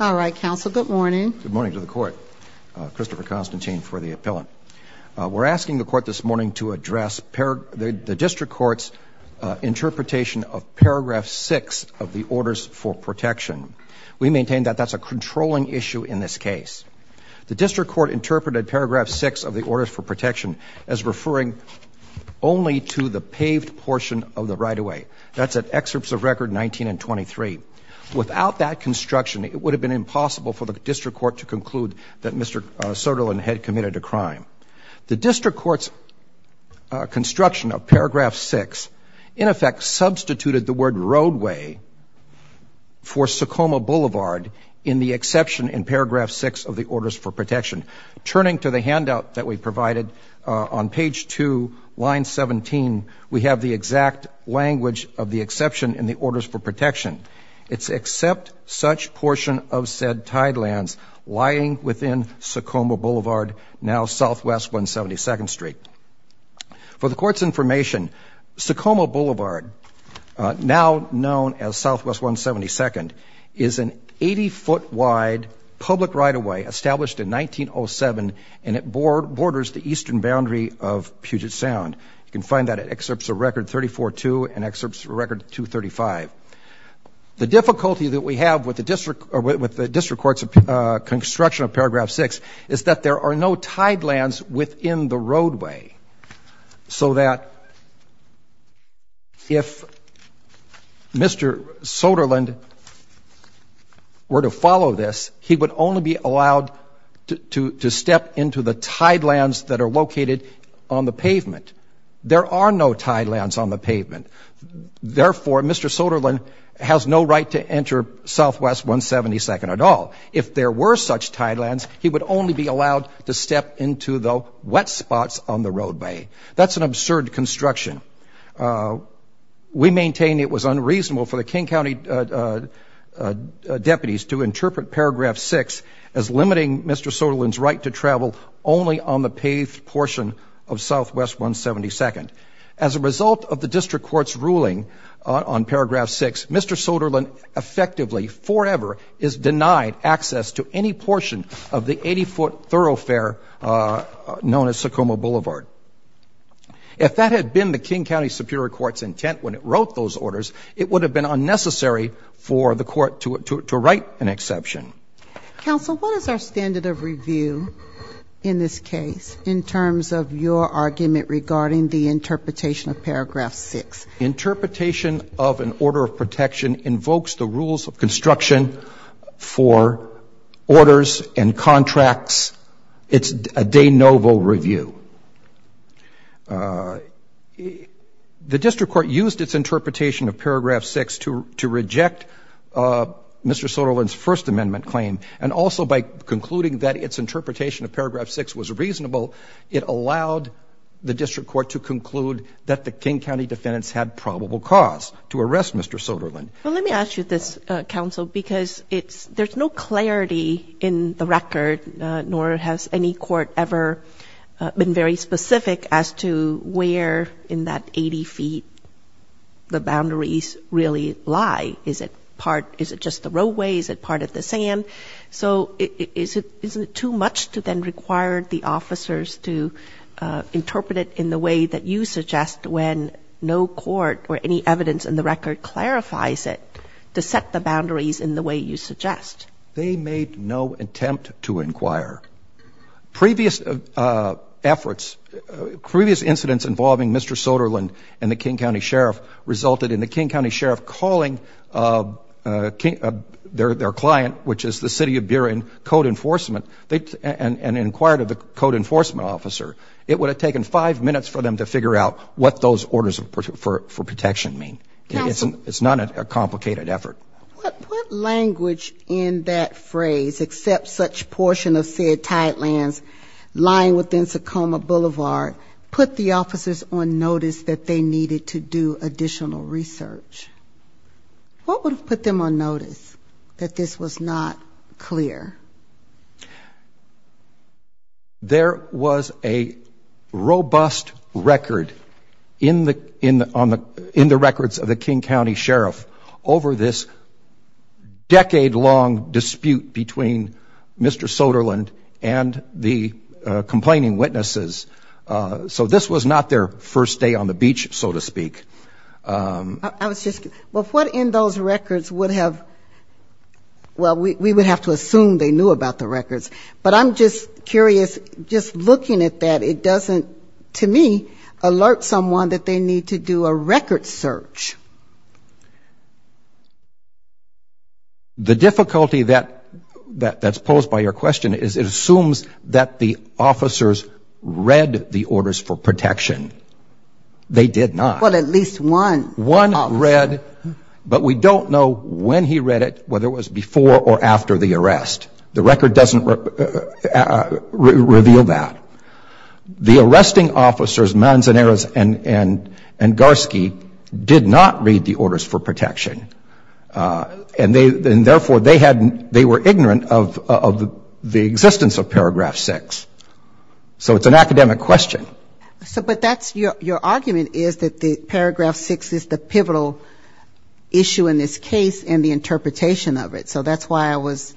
All right, counsel. Good morning. Good morning to the court Christopher Constantine for the appellant. We're asking the court this morning to address pair the district courts Interpretation of paragraph 6 of the orders for protection. We maintain that that's a controlling issue in this case the district court interpreted paragraph 6 of the orders for protection as referring Only to the paved portion of the right-of-way. That's at excerpts of record 19 and 23 Without that construction, it would have been impossible for the district court to conclude that mr. Soderlind had committed a crime the district courts Construction of paragraph 6 in effect substituted the word roadway For Socoma Boulevard in the exception in paragraph 6 of the orders for protection Turning to the handout that we provided on page 2 line 17 We have the exact language of the exception in the orders for protection It's except such portion of said tidelands lying within Socoma Boulevard now Southwest 172nd Street for the court's information Socoma Boulevard Now known as Southwest 172nd is an 80 foot wide Public right-of-way established in 1907 and it bored borders the eastern boundary of Puget Sound You can find that at excerpts of record 34 to and excerpts record 235 the difficulty that we have with the district or with the district courts of Construction of paragraph 6 is that there are no tidelands within the roadway so that If Mr. Soderlind Were to follow this he would only be allowed to Step into the tidelands that are located on the pavement. There are no tidelands on the pavement Therefore, mr. Soderlind has no right to enter Southwest 172nd at all if there were such tidelands He would only be allowed to step into the wet spots on the roadway. That's an absurd construction We maintain it was unreasonable for the King County Deputies to interpret paragraph 6 as limiting. Mr Soderlind's right to travel only on the paved portion of Southwest 172nd as a result of the district courts ruling On paragraph 6. Mr. Soderlind Effectively forever is denied access to any portion of the 80-foot thoroughfare known as Socoma Boulevard If that had been the King County Superior Court's intent when it wrote those orders, it would have been unnecessary For the court to write an exception Counsel, what is our standard of review in this case in terms of your argument regarding the interpretation of paragraph 6? interpretation of an order of protection invokes the rules of construction for Orders and contracts. It's a de novo review The District Court used its interpretation of paragraph 6 to to reject Mr. Soderlind's First Amendment claim and also by concluding that its interpretation of paragraph 6 was reasonable It allowed the district court to conclude that the King County defendants had probable cause to arrest. Mr Soderlind, well, let me ask you this counsel because it's there's no clarity in the record nor has any court ever Been very specific as to where in that 80 feet The boundaries really lie. Is it part? Is it just the roadways at part of the sand? so is it isn't it too much to then require the officers to Interpret it in the way that you suggest when no court or any evidence in the record Clarifies it to set the boundaries in the way you suggest. They made no attempt to inquire Previous efforts Previous incidents involving. Mr. Soderlind and the King County Sheriff resulted in the King County Sheriff calling King their their client, which is the city of beer in code enforcement They and and inquired of the code enforcement officer It would have taken five minutes for them to figure out what those orders for protection mean It's it's not a complicated effort Language in that phrase except such portion of said tight lands Lying within Socoma Boulevard put the officers on notice that they needed to do additional research What would have put them on notice that this was not clear? There was a robust record in the in on the in the records of the King County Sheriff over this decade long dispute between Mr. Soderlind and the complaining witnesses So this was not their first day on the beach, so to speak I was just well put in those records would have Well, we would have to assume they knew about the records, but I'm just curious just looking at that It doesn't to me alert someone that they need to do a record search The difficulty that that that's posed by your question is it assumes that the officers read the orders for protection They did not well at least one one read But we don't know when he read it whether it was before or after the arrest the record doesn't Reveal that the arresting officers Manzanera's and and and Garski did not read the orders for protection And they then therefore they hadn't they were ignorant of the the existence of paragraph six So it's an academic question. So but that's your argument. Is that the paragraph six is the pivotal? Issue in this case and the interpretation of it. So that's why I was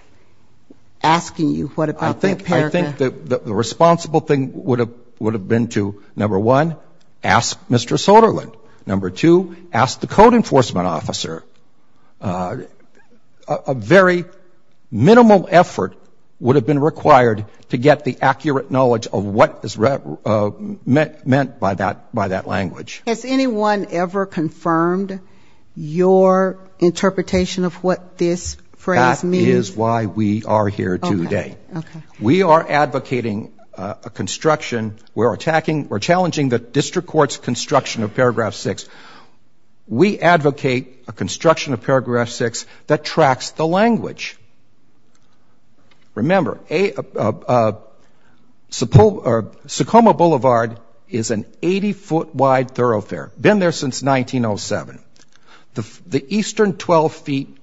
Asking you what about I think I think that the responsible thing would have would have been to number one asked. Mr Soderlund number two asked the code enforcement officer a very Minimal effort would have been required to get the accurate knowledge of what is read Met meant by that by that language. Has anyone ever confirmed? your Interpretation of what this phrase me is why we are here today we are advocating a Construction we're attacking. We're challenging the district courts construction of paragraph six We advocate a construction of paragraph six that tracks the language Remember a Support or Socoma Boulevard is an 80-foot wide thoroughfare been there since 1907 the the eastern 12 feet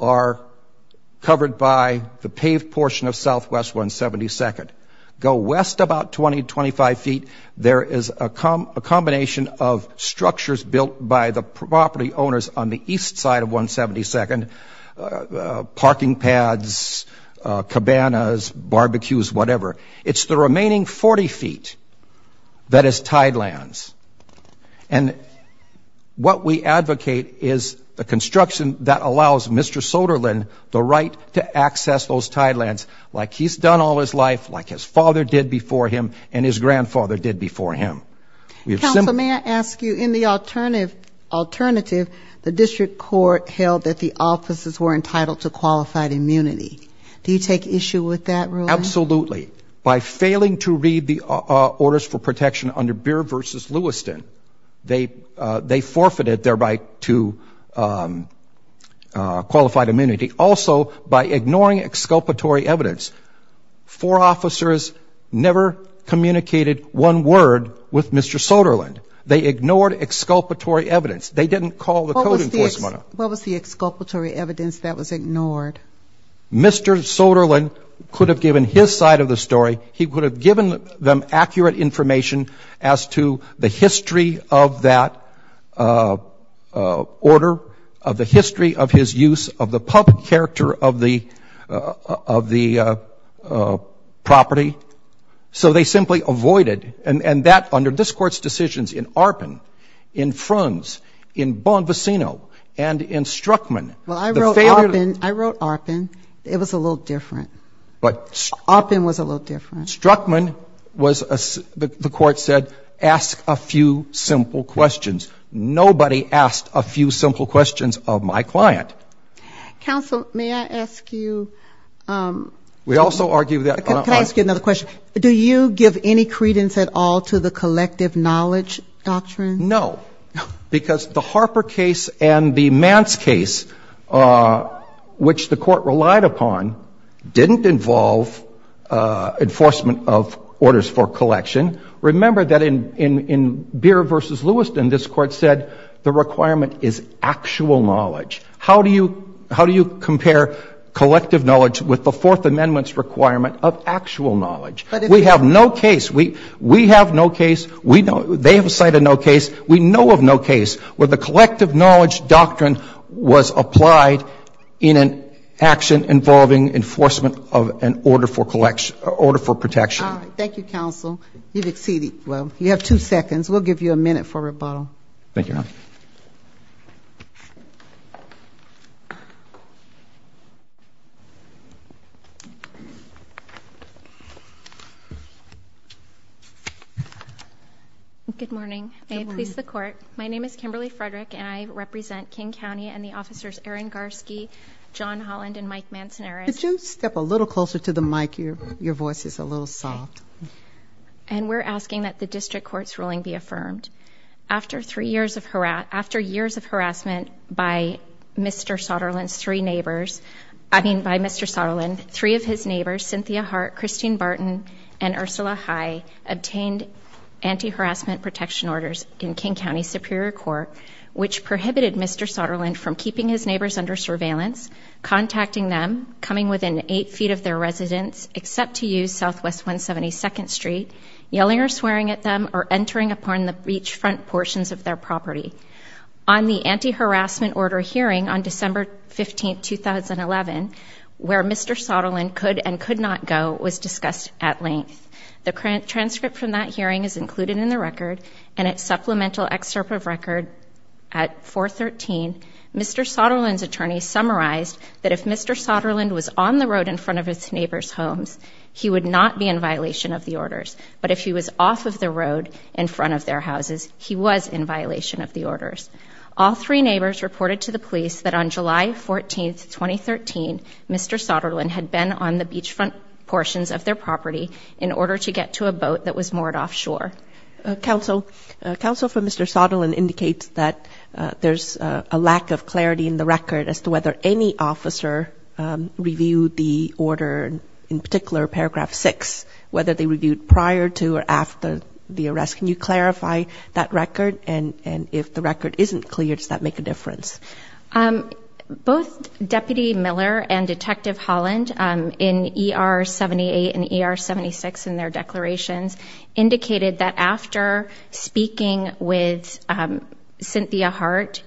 are Covered by the paved portion of Southwest 172nd go west about 20-25 feet There is a combination of structures built by the property owners on the east side of 172nd parking pads Cabanas barbecues, whatever. It's the remaining 40 feet. That is tidelands and What we advocate is the construction that allows mr Soderlund the right to access those tidelands like he's done all his life like his father did before him and his grandfather did before Him we have some may I ask you in the alternative? Alternative the district court held that the offices were entitled to qualified immunity. Do you take issue with that rule? Absolutely by failing to read the orders for protection under beer versus Lewiston they they forfeited thereby to Qualified immunity also by ignoring exculpatory evidence for officers Never communicated one word with mr. Soderlund. They ignored exculpatory evidence. They didn't call the What was the exculpatory evidence that was ignored? Mr. Soderlund could have given his side of the story He would have given them accurate information as to the history of that Order of the history of his use of the public character of the of the Property so they simply avoided and and that under this court's decisions in Arpin in fronts in Bon Vicino and in struckman Well, I wrote I wrote Arpin. It was a little different but Arpin was a little different Struckman was a the court said ask a few simple questions Nobody asked a few simple questions of my client Counsel, may I ask you? We also argue that can I ask you another question? Do you give any credence at all to the collective knowledge doctrine? No Because the Harper case and the man's case Which the court relied upon didn't involve Enforcement of orders for collection Remember that in in in beer versus Lewiston this court said the requirement is actual knowledge How do you how do you compare? Collective knowledge with the Fourth Amendment's requirement of actual knowledge But if we have no case we we have no case we know they have a site of no case We know of no case where the collective knowledge doctrine was applied in an action involving Enforcement of an order for collection order for protection. Thank you counsel. You've exceeded. Well, you have two seconds We'll give you a minute for rebuttal. Thank you Good morning, please the court My name is Kimberly Frederick and I represent King County and the officers Aaron Garski John Holland and Mike Manzanaro, did you step a little closer to the mic here? Your voice is a little soft And we're asking that the district courts ruling be affirmed after three years of her out after years of harassment by Mr. Sutherland's three neighbors. I mean by mr. Sutherland three of his neighbors Cynthia Hart Christine Barton and Ursula Hi obtained anti harassment protection orders in King County Superior Court, which prohibited. Mr Sutherland from keeping his neighbors under surveillance Contacting them coming within eight feet of their residence except to use Southwest 172nd Street Yelling or swearing at them or entering upon the beachfront portions of their property on the anti harassment order hearing on December 15th 2011 where mr Sutherland could and could not go was discussed at length the current transcript from that hearing is included in the record and its supplemental excerpt of record at 413 mr. Sutherland's attorney summarized that if mr. Sutherland was on the road in front of his neighbors homes He would not be in violation of the orders But if he was off of the road in front of their houses He was in violation of the orders all three neighbors reported to the police that on July 14th 2013 mr. Sutherland had been on the beachfront portions of their property in order to get to a boat that was moored offshore Counsel counsel for mr. Sutherland indicates that there's a lack of clarity in the record as to whether any officer Reviewed the order in particular paragraph 6 whether they reviewed prior to or after the arrest Can you clarify that record? And and if the record isn't clear, does that make a difference? Both deputy Miller and detective Holland in er 78 and er 76 in their declarations Indicated that after speaking with Cynthia Hart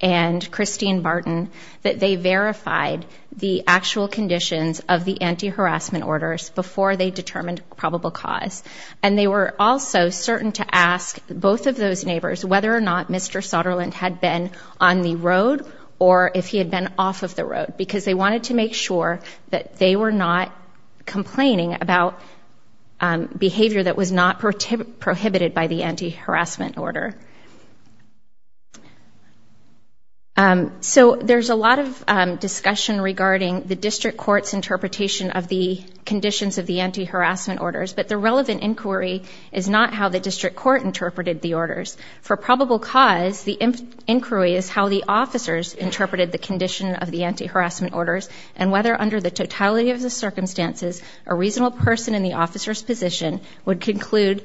and Christine Barton that they verified the actual conditions of the anti-harassment Orders before they determined probable cause and they were also certain to ask both of those neighbors whether or not Mr. Sutherland had been on the road or if he had been off of the road because they wanted to make sure that they were not complaining about Behavior that was not prohibited by the anti-harassment order So there's a lot of discussion regarding the district courts interpretation of the Conditions of the anti-harassment orders, but the relevant inquiry is not how the district court interpreted the orders for probable cause the inquiry is how the officers interpreted the condition of the anti-harassment orders and whether under the totality of the officers position would conclude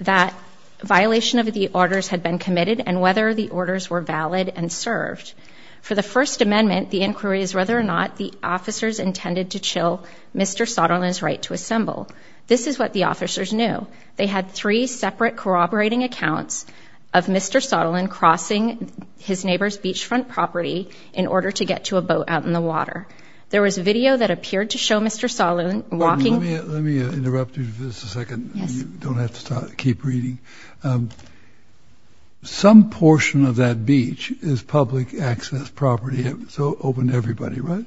that Violation of the orders had been committed and whether the orders were valid and served For the First Amendment the inquiry is whether or not the officers intended to chill. Mr Sutherland's right to assemble. This is what the officers knew they had three separate corroborating accounts of Mr. Sutherland crossing his neighbor's beachfront property in order to get to a boat out in the water There was a video that appeared to show mr. Sutherland walking Some portion of that beach is public access property. So open everybody, right?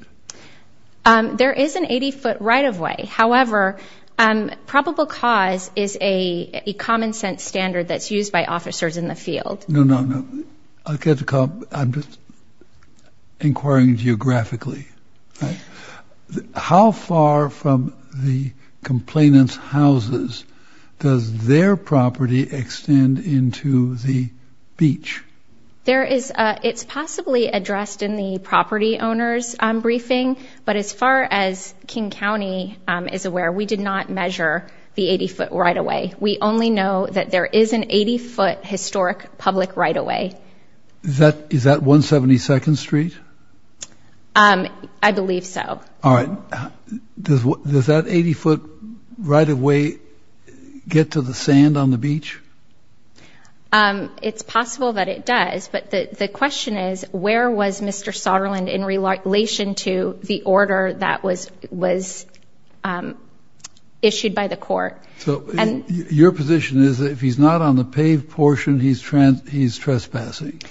There is an 80-foot right-of-way. However, um Probable cause is a common-sense standard that's used by officers in the field. No, no. No, I'll get to come. I'm just Geographically How far from the complainants houses Does their property extend into the beach? There is it's possibly addressed in the property owners Briefing but as far as King County is aware, we did not measure the 80-foot right-of-way We only know that there is an 80-foot historic public right-of-way That is that 172nd Street? I believe so. All right Does what does that 80-foot right-of-way? Get to the sand on the beach It's possible that it does but the question is where was mr. Sutherland in relation to the order that was was Issued by the court so and your position is if he's not on the paved portion, he's trans he's trespassing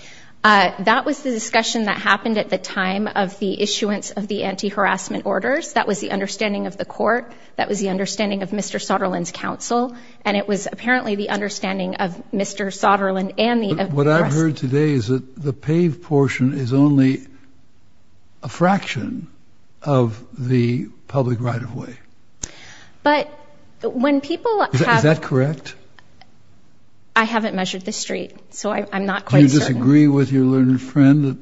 That was the discussion that happened at the time of the issuance of the anti-harassment orders That was the understanding of the court. That was the understanding of mr. Sutherland's counsel and it was apparently the understanding of mr Sutherland and the what I've heard today is that the paved portion is only a fraction of the public right-of-way but when people have that correct I Agree with your learned friend that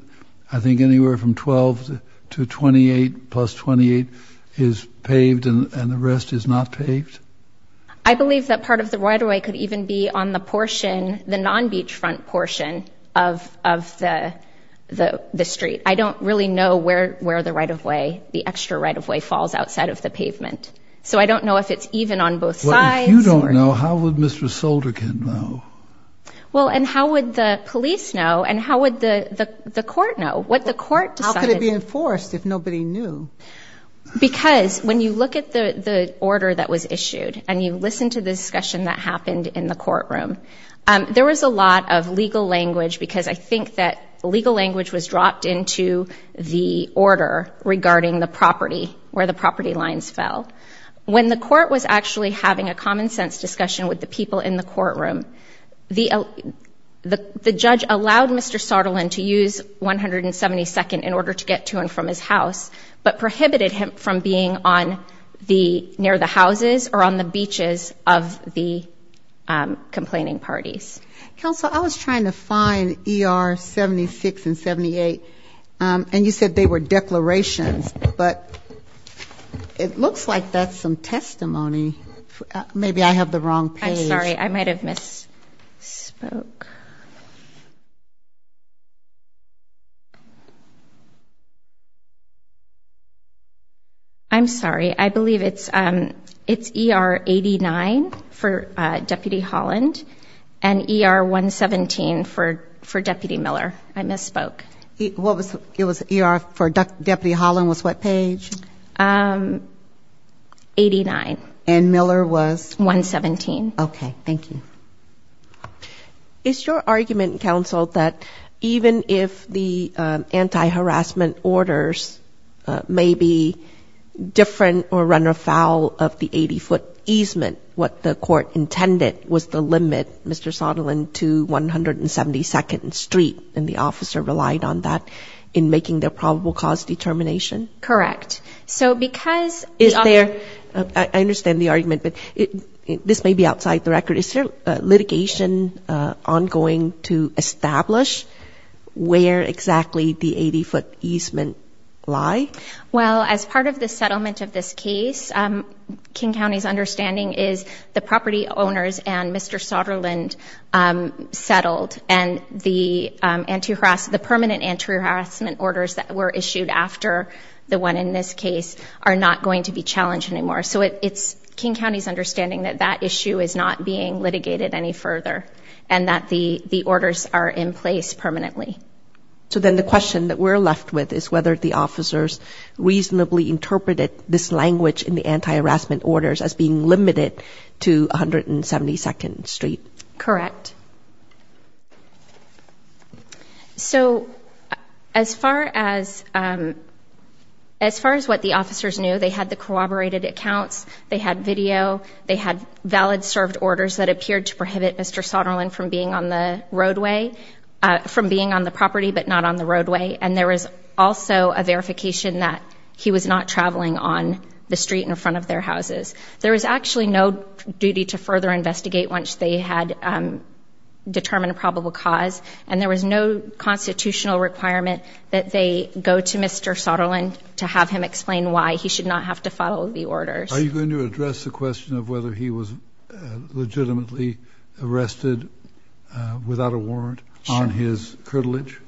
I think anywhere from 12 to 28 plus 28 is Paved and the rest is not paved. I believe that part of the right-of-way could even be on the portion the non beachfront portion of the The street, I don't really know where where the right-of-way the extra right-of-way falls outside of the pavement So I don't know if it's even on both sides. You don't know how would mr. Solder can know? Well, and how would the police know and how would the the court know what the court decided to be enforced if nobody knew Because when you look at the the order that was issued and you listen to the discussion that happened in the courtroom There was a lot of legal language because I think that legal language was dropped into the order Regarding the property where the property lines fell when the court was actually having a common-sense discussion with the people in the courtroom the The the judge allowed mr. Sutherland to use 172nd in order to get to and from his house, but prohibited him from being on the near the houses or on the beaches of the Complaining parties counsel. I was trying to find er 76 and 78 and you said they were declarations, but It looks like that's some testimony Maybe I have the wrong page. I'm sorry. I might have miss spoke I'm sorry, I believe it's um, it's er 89 for deputy Holland and Er 117 for for deputy Miller. I misspoke. What was it was er for deputy Holland was what page? Um 89 and Miller was 117. Okay. Thank you It's your argument counsel that even if the anti-harassment orders may be Different or run afoul of the 80-foot easement what the court intended was the limit. Mr Sutherland to 172nd Street and the officer relied on that in making their probable cause determination, correct? So because if they're I understand the argument, but it this may be outside the record. Is there litigation? ongoing to establish Where exactly the 80-foot easement lie? Well as part of the settlement of this case King County's understanding is the property owners and mr. Sutherland Settled and the Anti-harassment the permanent anti-harassment orders that were issued after the one in this case are not going to be challenged anymore So it's King County's understanding that that issue is not being litigated any further and that the the orders are in place permanently So then the question that we're left with is whether the officers Reasonably interpreted this language in the anti-harassment orders as being limited to 172nd Street, correct So as far as As far as what the officers knew they had the corroborated accounts they had video they had valid served orders that appeared to prohibit Mr. Sutherland from being on the roadway From being on the property but not on the roadway and there is also a verification that he was not traveling on The street in front of their houses. There was actually no duty to further investigate once they had Determined a probable cause and there was no Constitutional requirement that they go to mr. Sutherland to have him explain why he should not have to follow the orders Are you going to address the question of whether he was? legitimately arrested Without a warrant on his curtilage.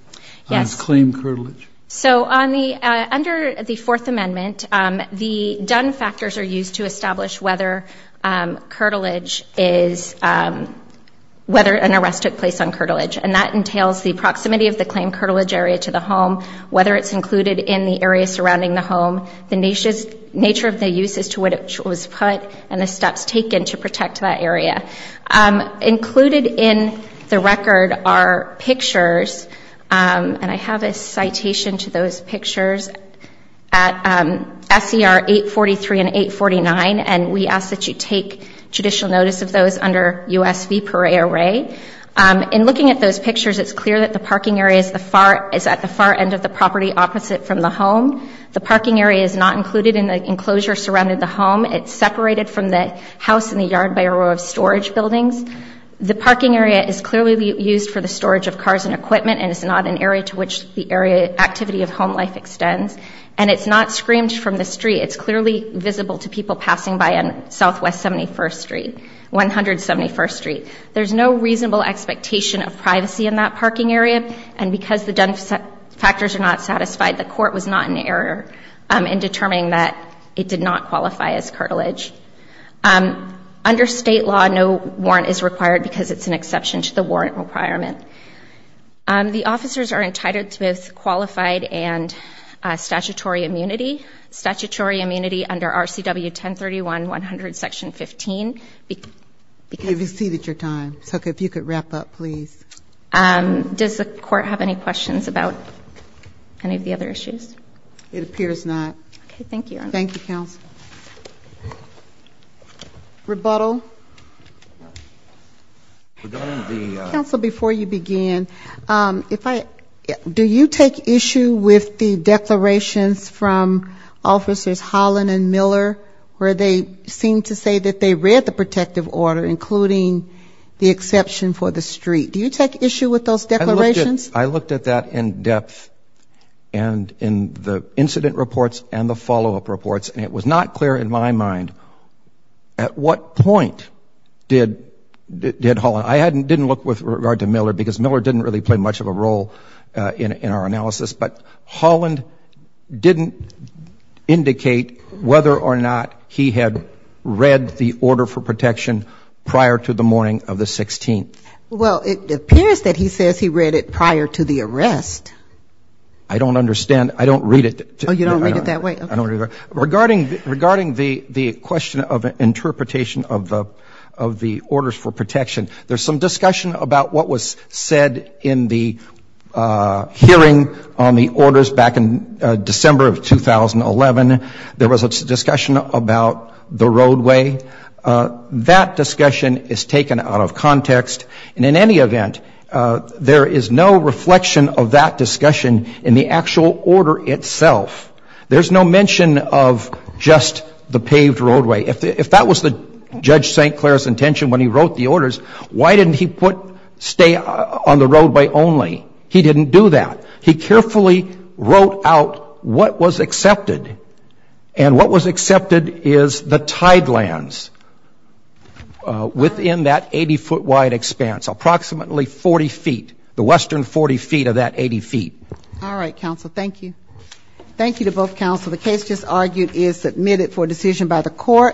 Yes claim curtilage So on the under the Fourth Amendment the done factors are used to establish whether curtilage is Whether an arrest took place on curtilage and that entails the proximity of the claim curtilage area to the home Whether it's included in the area surrounding the home the nation's nature of the use as to what it was put and the steps Taken to protect that area Included in the record are pictures And I have a citation to those pictures at SCR 843 and 849 and we ask that you take judicial notice of those under US v. Peret array In looking at those pictures It's clear that the parking area is the far is at the far end of the property opposite from the home The parking area is not included in the enclosure surrounded the home It's separated from the house in the yard by a row of storage buildings The parking area is clearly used for the storage of cars and equipment and it's not an area to which the area Activity of home life extends and it's not screamed from the street. It's clearly visible to people passing by in Southwest 71st Street 171st Street, there's no reasonable expectation of privacy in that parking area and because the done Factors are not satisfied. The court was not an error in determining that it did not qualify as curtilage Under state law no warrant is required because it's an exception to the warrant requirement the officers are entitled to both qualified and statutory immunity statutory immunity under RCW 1031 100 section 15 Because you've exceeded your time. So if you could wrap up, please Does the court have any questions about any of the other issues? It appears not. Okay. Thank you. Thank you counsel Rebuttal Counsel before you begin if I do you take issue with the declarations from officers Holland and Miller where they seem to say that they read the protective order including The exception for the street. Do you take issue with those declarations? I looked at that in depth and The incident reports and the follow-up reports and it was not clear in my mind at what point Did did Holland I hadn't didn't look with regard to Miller because Miller didn't really play much of a role in in our analysis but Holland didn't Indicate whether or not he had read the order for protection prior to the morning of the 16th Well, it appears that he says he read it prior to the arrest. I Don't understand. I don't read it. Oh, you don't read it that way I don't know regarding regarding the the question of interpretation of the of the orders for protection there's some discussion about what was said in the Hearing on the orders back in December of 2011. There was a discussion about the roadway That discussion is taken out of context and in any event There is no reflection of that discussion in the actual order itself there's no mention of Just the paved roadway if that was the judge st. Clair's intention when he wrote the orders Why didn't he put stay on the roadway only he didn't do that He carefully wrote out what was accepted and what was accepted is the tidelands Within that 80-foot wide expanse approximately 40 feet the western 40 feet of that 80 feet All right counsel. Thank you Thank you to both counsel. The case just argued is submitted for decision by the court